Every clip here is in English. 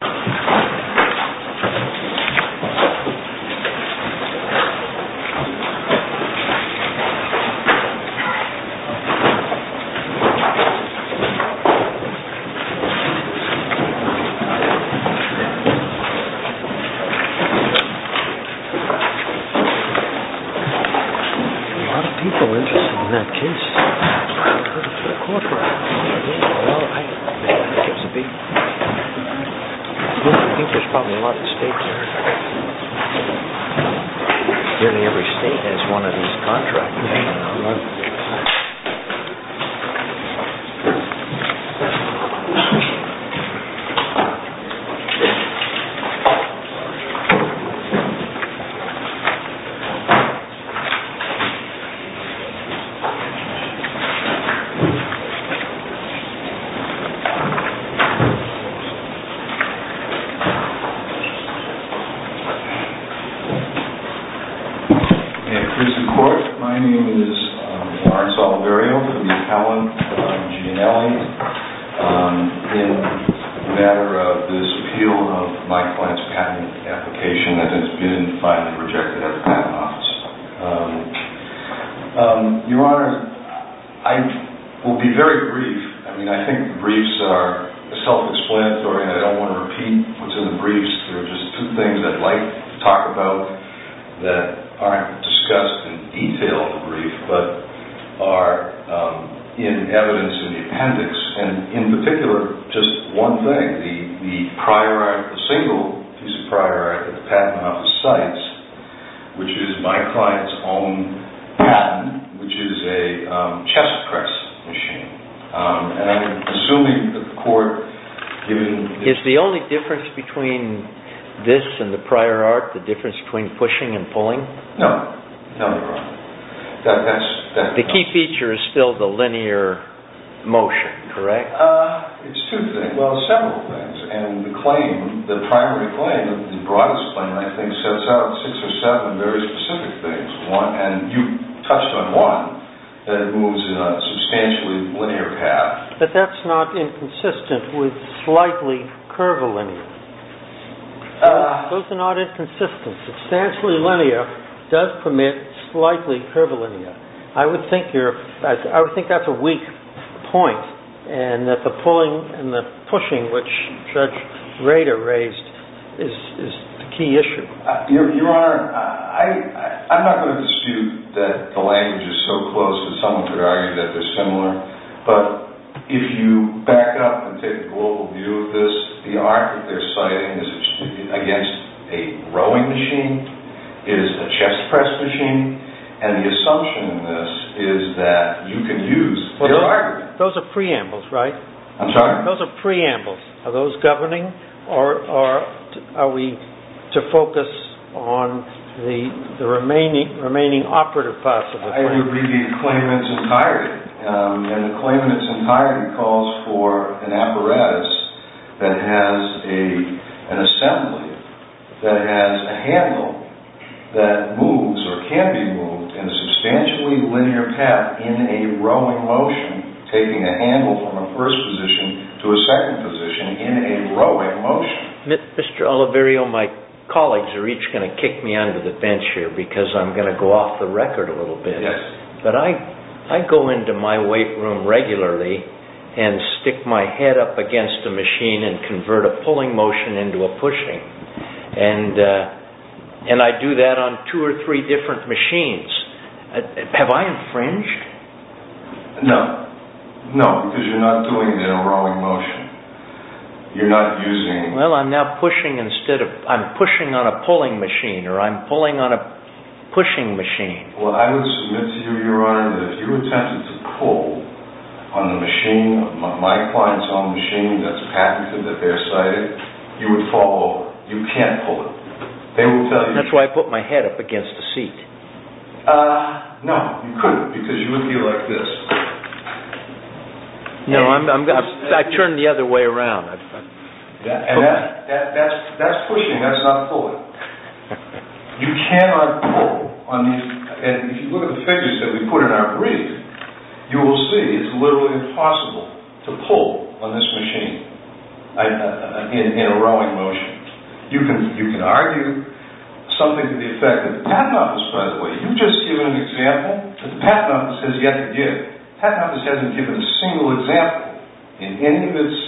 A lot of people are interested in that case. I think there's probably a lot of states there. Nearly every state has one of these contracts. I will be very brief. I think briefs are self-explanatory and I don't want to repeat what's in the briefs. There are just two things I'd like to talk about that aren't discussed in detail in the brief but are in evidence in the appendix. In particular, just one thing, the prior art, the single piece of prior art that the patent office cites, which is my client's own patent, which is a chest press machine. I'm assuming that the court... Is the only difference between this and the prior art the difference between pushing and pulling? No, no they're not. The key feature is still the linear motion, correct? It's two things, well several things. And the claim, the primary claim, the broadest claim I think sets out six or seven very specific things. One, and you touched on one, that it moves in a substantially linear path. But that's not inconsistent with slightly curvilinear. Those are not inconsistent. Substantially linear does permit slightly curvilinear. I would think that's a weak point and that the pulling and the pushing which Judge Rader raised is the key issue. Your Honor, I'm not going to dispute that the language is so close that someone could argue that they're similar. But if you back up and take a global view of this, the art that they're citing is against a rowing machine, is a chest press machine, and the assumption in this is that you can use the art... Those are preambles, right? I'm sorry? Those are preambles. Are those governing or are we to focus on the remaining operative parts of it? I would abbreviate the claim in its entirety. And the claim in its entirety calls for an apparatus that has an assembly, that has a handle that moves or can be moved in a substantially linear path in a rowing motion, taking a handle from a first position to a second position in a rowing motion. Mr. Oliverio, my colleagues are each going to kick me under the bench here because I'm going to go off the record a little bit. Yes. But I go into my weight room regularly and stick my head up against a machine and convert a pulling motion into a pushing. And I do that on two or three different machines. Have I infringed? No. No, because you're not doing it in a rowing motion. You're not using... Well, I'm now pushing instead of... I'm pushing on a pulling machine or I'm pulling on a pushing machine. Well, I would submit to you, Your Honor, that if you attempted to pull on the machine, my client's own machine that's patented, that they're cited, you would fall over. You can't pull it. They will tell you... That's why I put my head up against the seat. No, you couldn't because you would be like this. No, I turned the other way around. And that's pushing. That's not pulling. You cannot pull on these... And if you look at the figures that we put in our brief, you will see it's literally impossible to pull on this machine in a rowing motion. You can argue something to the effect that the Patent Office, by the way, you just gave an example that the Patent Office has yet to give. The Patent Office hasn't given a single example in any of its...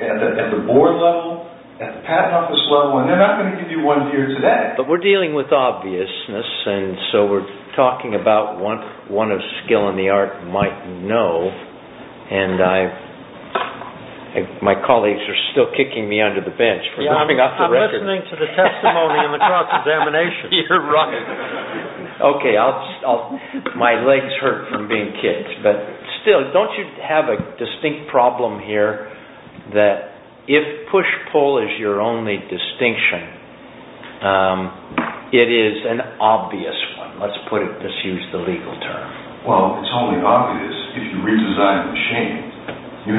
At the board level, at the Patent Office level, and they're not going to give you one here today. But we're dealing with obviousness, and so we're talking about what one of skill in the art might know, and my colleagues are still kicking me under the bench for dropping off the record. I'm listening to the testimony of a cross-examination. You're right. Okay, my legs hurt from being kicked. But still, don't you have a distinct problem here that if push-pull is your only distinction, it is an obvious one. Let's use the legal term. Well, it's only obvious if you redesign the machine. You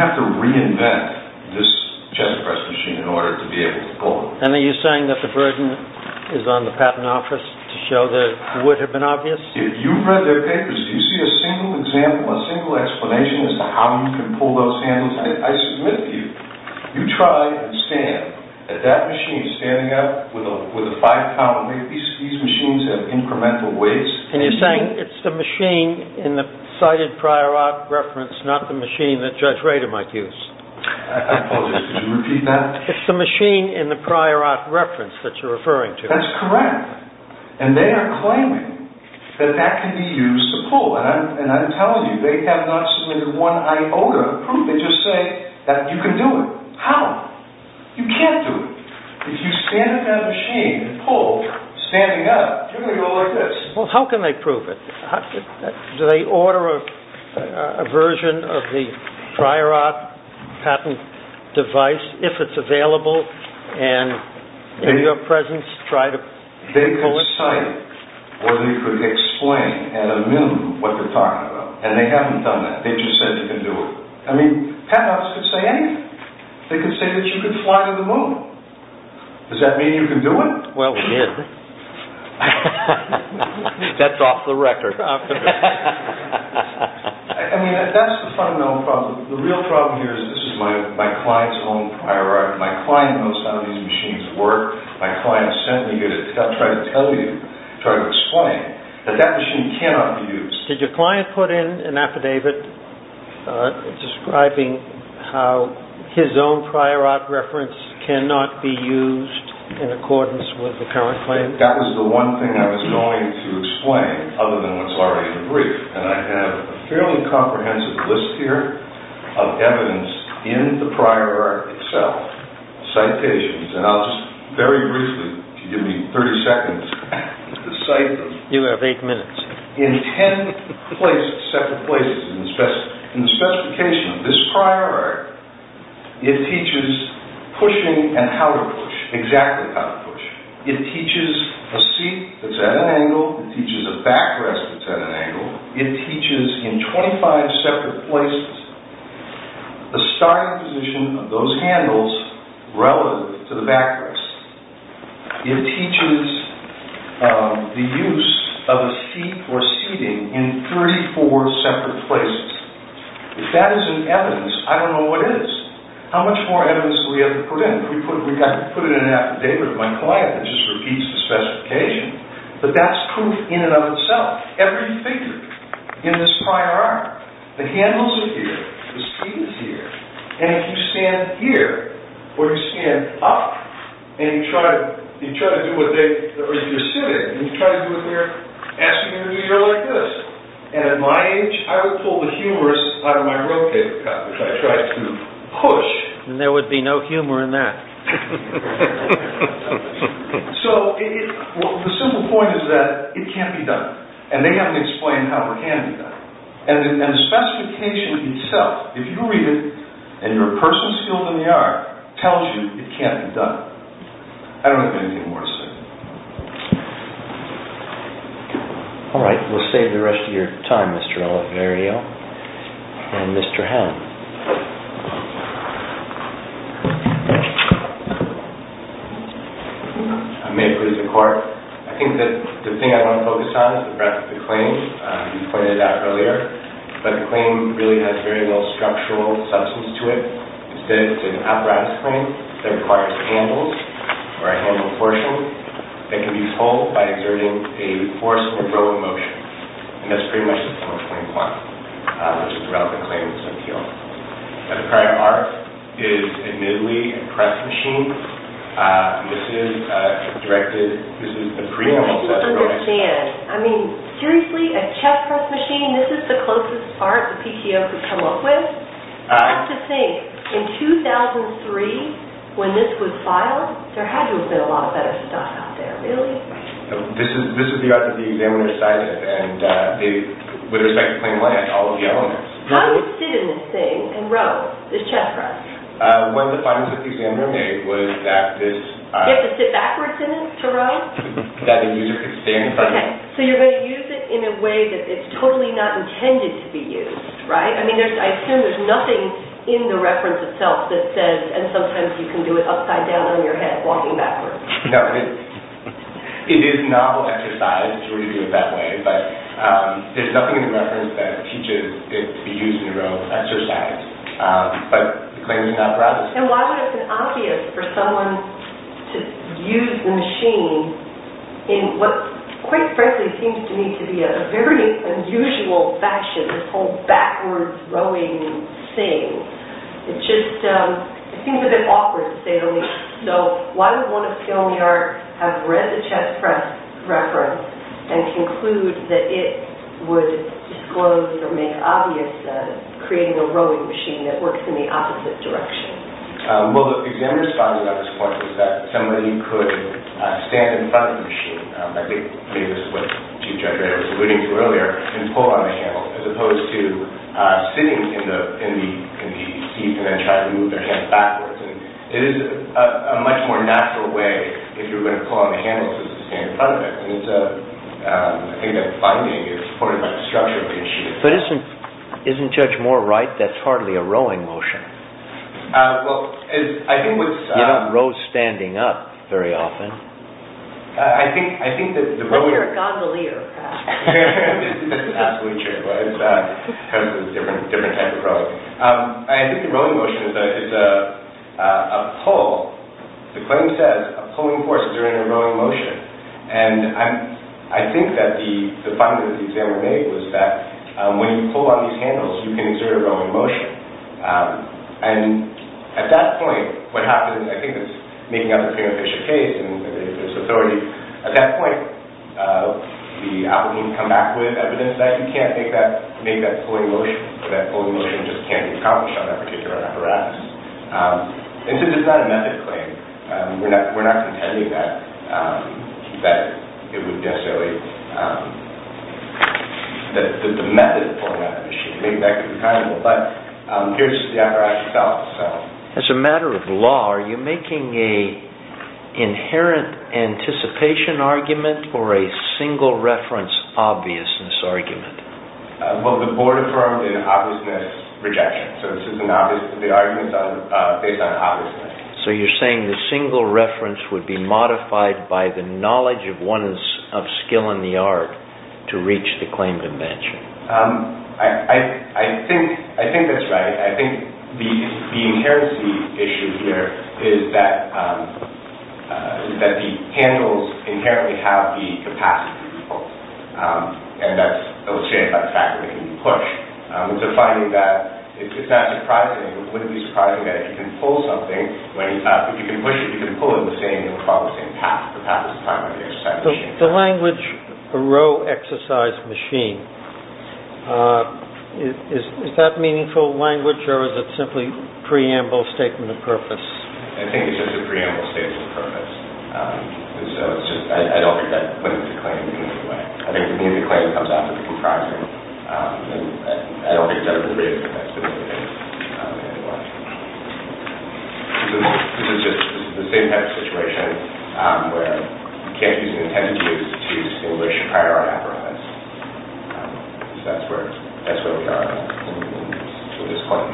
have to reinvent this chess press machine in order to be able to pull it. And are you saying that the burden is on the Patent Office to show that it would have been obvious? If you've read their papers, do you see a single example, a single explanation as to how you can pull those handles? I submit to you, you try and stand that that machine is standing up with a five-pound weight. These machines have incremental weights. And you're saying it's the machine in the cited prior reference, not the machine that Judge Rader might use? I apologize. Could you repeat that? It's the machine in the prior art reference that you're referring to. That's correct. And they are claiming that that can be used to pull. And I'm telling you, they have not submitted one iota of proof. They just say that you can do it. How? You can't do it. If you stand in that machine and pull, standing up, you're going to go like this. Well, how can they prove it? Do they order a version of the prior art patent device, if it's available, and in your presence try to pull it? They could cite or they could explain and ammend what they're talking about. And they haven't done that. They just said you can do it. I mean, patent office could say anything. They could say that you can fly to the moon. Does that mean you can do it? Well, we did. That's off the record. I mean, that's the fundamental problem. The real problem here is this is my client's own prior art. My client knows how these machines work. My client sent me here to try to tell you, try to explain that that machine cannot be used. Did your client put in an affidavit describing how his own prior art reference cannot be used in accordance with the current claim? That was the one thing I was going to explain, other than what's already in the brief. And I have a fairly comprehensive list here of evidence in the prior art itself, citations. And I'll just very briefly, if you give me 30 seconds, to cite them. You have eight minutes. In ten separate places in the specification of this prior art, it teaches pushing and how to push, exactly how to push. It teaches a seat that's at an angle. It teaches a backrest that's at an angle. It teaches, in 25 separate places, the starting position of those handles relative to the backrest. It teaches the use of a seat or seating in 34 separate places. If that isn't evidence, I don't know what is. How much more evidence do we have to put in? Do we have to put it in an affidavit with my client that just repeats the specification? But that's proof in and of itself. Every figure in this prior art, the handles are here, the seat is here, and if you stand here, or you stand up, or you're sitting, and you try to do it there, asking you to do your like this. And at my age, I would pull the humerus out of my rope paper cup, which I tried to push. And there would be no humor in that. So, the simple point is that it can't be done. And they haven't explained how it can be done. And the specification itself, if you read it, and you're a person skilled in the art, tells you it can't be done. I don't have anything more to say. All right. We'll save the rest of your time, Mr. Oliverio. And Mr. Hamm. I may have put it to court. I think that the thing I want to focus on is the breadth of the claim. You pointed it out earlier. But the claim really has very little structural substance to it. Instead, it's an apparatus claim that requires handles, or a handle portion. It can be pulled by exerting a force in a row of motion. And that's pretty much the point of claim 1, which is the relevant claim in the subpoena. The prior art is admittedly a press machine. This is directed, this is the preamble set. You have to understand. I mean, seriously, a chess press machine? This is the closest part the PTO could come up with? I have to think. In 2003, when this was filed, there had to have been a lot of better stuff out there. Really? This is the art that the examiner cited. And with respect to claim 1, it had all of the elements. Why would you sit in this thing and row, this chess press? One of the findings that the examiner made was that this... You have to sit backwards in it to row? That the user could stand in front of it. Okay. So you're going to use it in a way that it's totally not intended to be used, right? I mean, I assume there's nothing in the reference itself that says, and sometimes you can do it upside down on your head, walking backwards. No. It is novel exercise to do it that way, but there's nothing in the reference that teaches it to be used in a row. Exercise. But the claim is not brought. And why would it have been obvious for someone to use the machine in what, quite frankly, seems to me to be a very unusual fashion, this whole backwards rowing thing. It just seems a bit awkward, to say the least. So why would one of you in the art have read the chess press reference and conclude that it would disclose or make obvious that it's creating a rowing machine that works in the opposite direction? Well, the examiner's finding at this point was that somebody could stand in front of the machine, I think maybe this is what Chief Judge Ray was alluding to earlier, and pull on the handle, as opposed to sitting in the seat and then try to move their hands backwards. It is a much more natural way, if you're going to pull on the handle, to stand in front of it. I think that finding is supported by the structure of the machine. But isn't Judge Moore right? That's hardly a rowing motion. Well, I think what's... You don't row standing up very often. I think that the rowing... You're a gogglier. That's absolutely true. It's a different type of rowing. I think the rowing motion is a pull. The claim says a pulling force is a rowing motion. And I think that the finding that the examiner made was that when you pull on these handles, you can exert a rowing motion. And at that point, what happens, I think it's making up for the preeminent case in this authority, at that point, the applicant will come back with evidence that you can't make that pulling motion, or that pulling motion just can't be accomplished on that particular apparatus. And since it's not a method claim, we're not contending that it would necessarily... that the method of pulling on that machine. Maybe that could be possible. But here's the apparatus itself. As a matter of law, are you making an inherent anticipation argument or a single reference obviousness argument? Well, the board affirmed an obviousness rejection. So this is an obvious... The arguments are based on obviousness. So you're saying the single reference would be modified by the knowledge of one's skill in the art to reach the claim dimension. I think that's right. I think the inherent issue here is that the handles inherently have the capacity to be pulled. And that's illustrated by the fact that it can be pushed. It's a finding that it's not surprising, it wouldn't be surprising that if you can pull something, if you can push it, you can pull it in the same, across the same path, the path of time on the exercise machine. The language, the row exercise machine, is that meaningful language or is it simply preamble statement of purpose? I think it's just a preamble statement of purpose. And so it's just... I don't think that putting the claim in any other way. I think putting the claim comes out to be comprising. And I don't think that it's a preamble statement of purpose. This is just the same type of situation where you can't use an intended use to distinguish prior or after events. So that's where we are with this claim.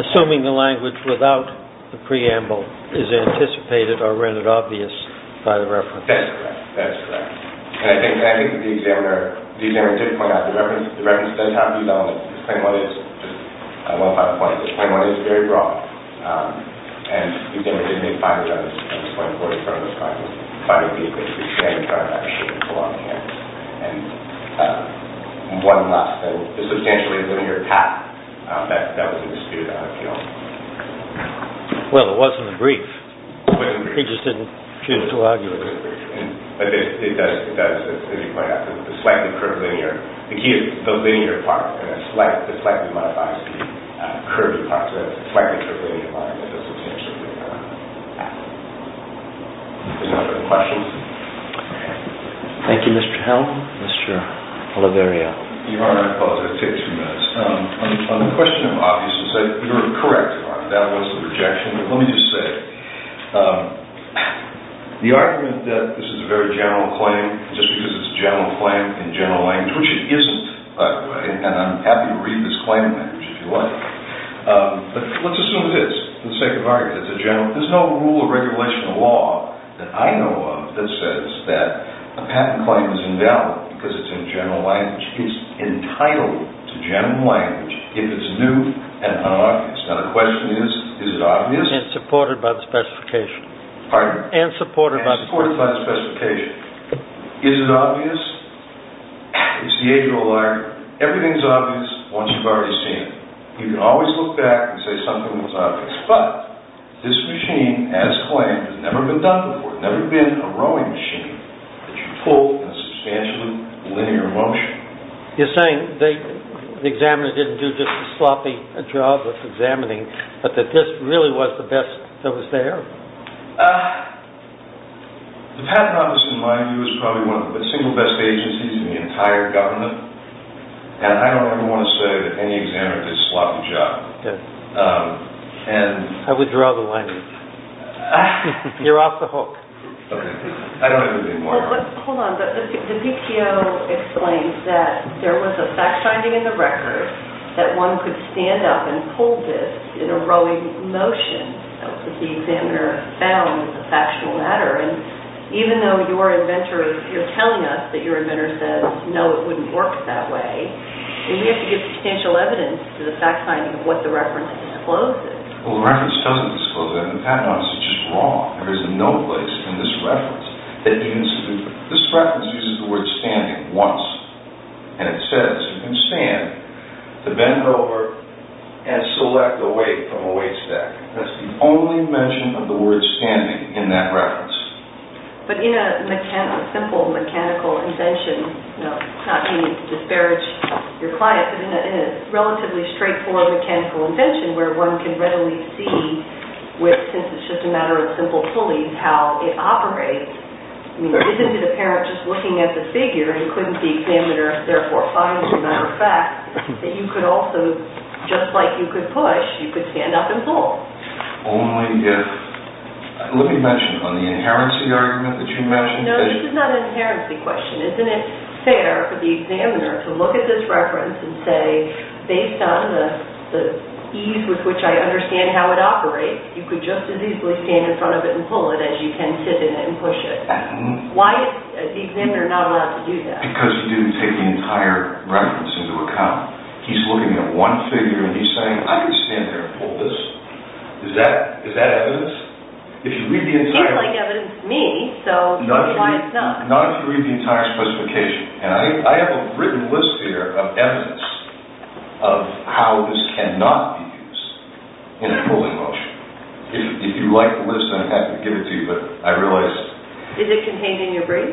Assuming the language without the preamble is anticipated or rendered obvious by the reference. That's correct. That's correct. And I think the examiner did point out the reference doesn't have these elements. This claim only is just one of five points. This claim only is very broad. And the examiner didn't make five of those points. He pointed to one of those five points. He didn't try to make a shape along here. And one must have a substantially linear path that was understood out of field. Well, it wasn't a brief. He just didn't choose to argue. But it does, as you pointed out, The key is the linear part. The slightly modified curved part. The fact that there's a linear part that doesn't change the linear path. Any other questions? Thank you, Mr. Helm. Mr. Oliverio. Your Honor, I apologize. It takes a few minutes. On the question of obviousness, you're correct. That was a rejection. But let me just say, the argument that this is a very general claim, just because it's a general claim in general language, which it isn't, by the way, and I'm happy to read this claim in language if you like. But let's assume it is. Let's say it's a general. There's no rule or regulation of law that I know of that says that a patent claim is invalid because it's in general language. It's entitled to general language if it's new and unobvious. Now the question is, is it obvious? And supported by the specification. Pardon? And supported by the specification. Is it obvious? It's the age of the lawyer. Everything's obvious once you've already seen it. You can always look back and say something was obvious. But this machine, as claimed, has never been done before. There's never been a rowing machine that you pulled in a substantially linear motion. You're saying the examiner didn't do just a sloppy job of examining, but that this really was the best that was there? The Patent Office, in my view, is probably one of the single best agencies in the entire government. And I don't ever want to say that any examiner did a sloppy job. I would draw the line. You're off the hook. Okay. I don't have anything more. Hold on. The PPO explains that there was a fact-finding in the record that one could stand up and pull this in a rowing motion if the examiner found the factual matter. And even though you're telling us that your administrator says, no, it wouldn't work that way, we have to give substantial evidence to the fact-finding of what the reference discloses. Well, the reference doesn't disclose it. The Patent Office is just wrong. There is no place in this reference that you can stand up. This reference uses the word standing once. And it says you can stand to bend over That's the only mention of the word standing in that reference. But in a simple mechanical invention, not meaning to disparage your client, but in a relatively straightforward mechanical invention where one can readily see since it's just a matter of simple pulleys how it operates, isn't it apparent just looking at the figure and couldn't the examiner therefore find as a matter of fact that you could also, just like you could push, you could stand up and pull? Only if... Let me mention on the inherency argument that you mentioned... No, this is not an inherency question. Isn't it fair for the examiner to look at this reference and say based on the ease with which I understand how it operates, you could just as easily stand in front of it and pull it as you can sit in it and push it? Why is the examiner not allowed to do that? Because he didn't take the entire reference into account. He's looking at one figure and he's saying I could stand there and pull this. Is that evidence? It seems like evidence to me, so why is it not? Not if you read the entire specification. And I have a written list here of evidence of how this cannot be used in a pulling motion. If you like the list, I'm happy to give it to you, but I realize... Is it contained in your brief?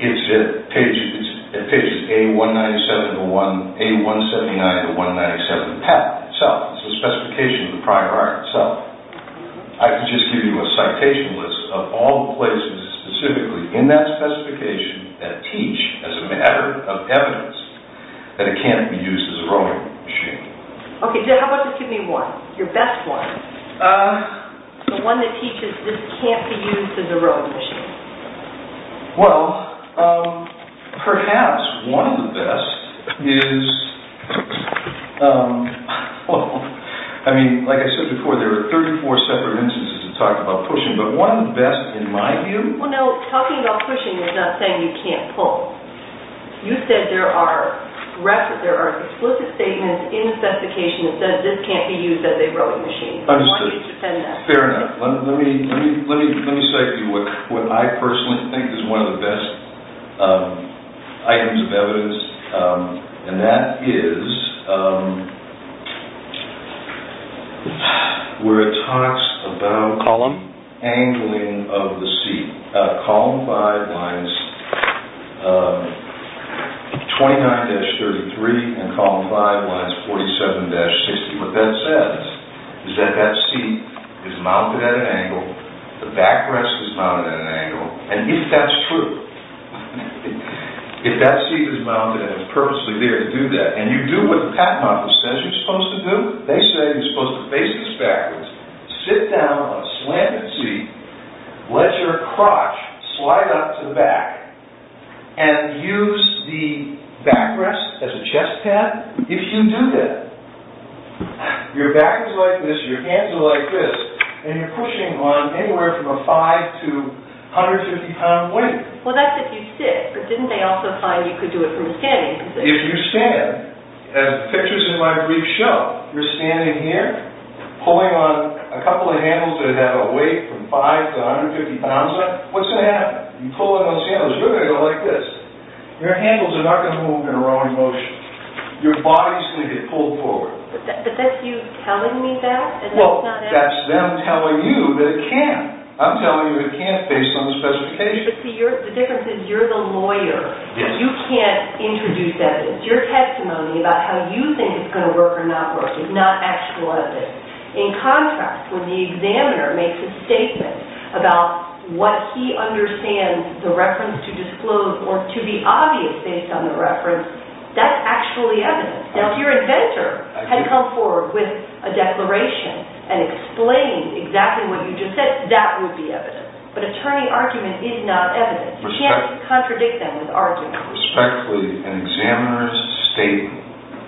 It's at pages A179-197, the patent itself. It's a specification of the prior art itself. I could just give you a citation list of all the places specifically in that specification that teach as a matter of evidence that it can't be used as a rowing machine. Okay, how about just give me one? Your best one. The one that teaches this can't be used as a rowing machine. Well, perhaps one of the best is... I mean, like I said before, there are 34 separate instances that talk about pushing, but one of the best, in my view... Well, no, talking about pushing is not saying you can't pull. You said there are explicit statements in the specification that says this can't be used as a rowing machine. Understood. Fair enough. Let me cite to you what I personally think is one of the best items of evidence, and that is... where it talks about... Column? Angling of the seat. Column 5 lines 29-33 and column 5 lines 47-60. What that says is that that seat is mounted at an angle, the backrest is mounted at an angle, and if that's true, if that seat is mounted and is purposely there to do that, and you do what the patent office says you're supposed to do, they say you're supposed to face this backwards, sit down on a slanted seat, let your crotch slide up to the back, and use the backrest as a chest pad, if you do that, your back is like this, your hands are like this, and you're pushing on anywhere from a 5 to 150 pound weight. Well, that's if you sit, but didn't they also find you could do it from standing? If you stand, as pictures in my brief show, you're standing here, pulling on a couple of handles that have a weight from 5 to 150 pounds on them, what's going to happen? You pull on those handles, you're going to go like this. Your handles are not going to move in a wrong motion. Your body's going to get pulled forward. But that's you telling me that? Well, that's them telling you that it can't. I'm telling you it can't based on the specifications. The difference is you're the lawyer. You can't introduce evidence. Your testimony about how you think it's going to work or not work is not actual evidence. In contrast, when the examiner makes a statement about what he understands the reference to disclose or to be obvious based on the reference, that's actually evidence. Now, if your inventor had come forward with a declaration and explained exactly what you just said, that would be evidence. But attorney argument is not evidence. You can't contradict them with argument. Respectfully, an examiner's statement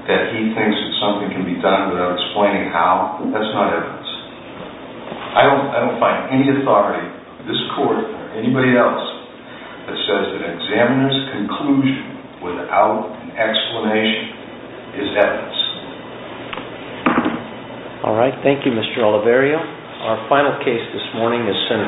that he thinks that something can be done without explaining how, that's not evidence. I don't find any authority, this court or anybody else, that says that an examiner's conclusion without an explanation is evidence. All right, thank you, Mr. Oliverio. Our final case this morning is sentenced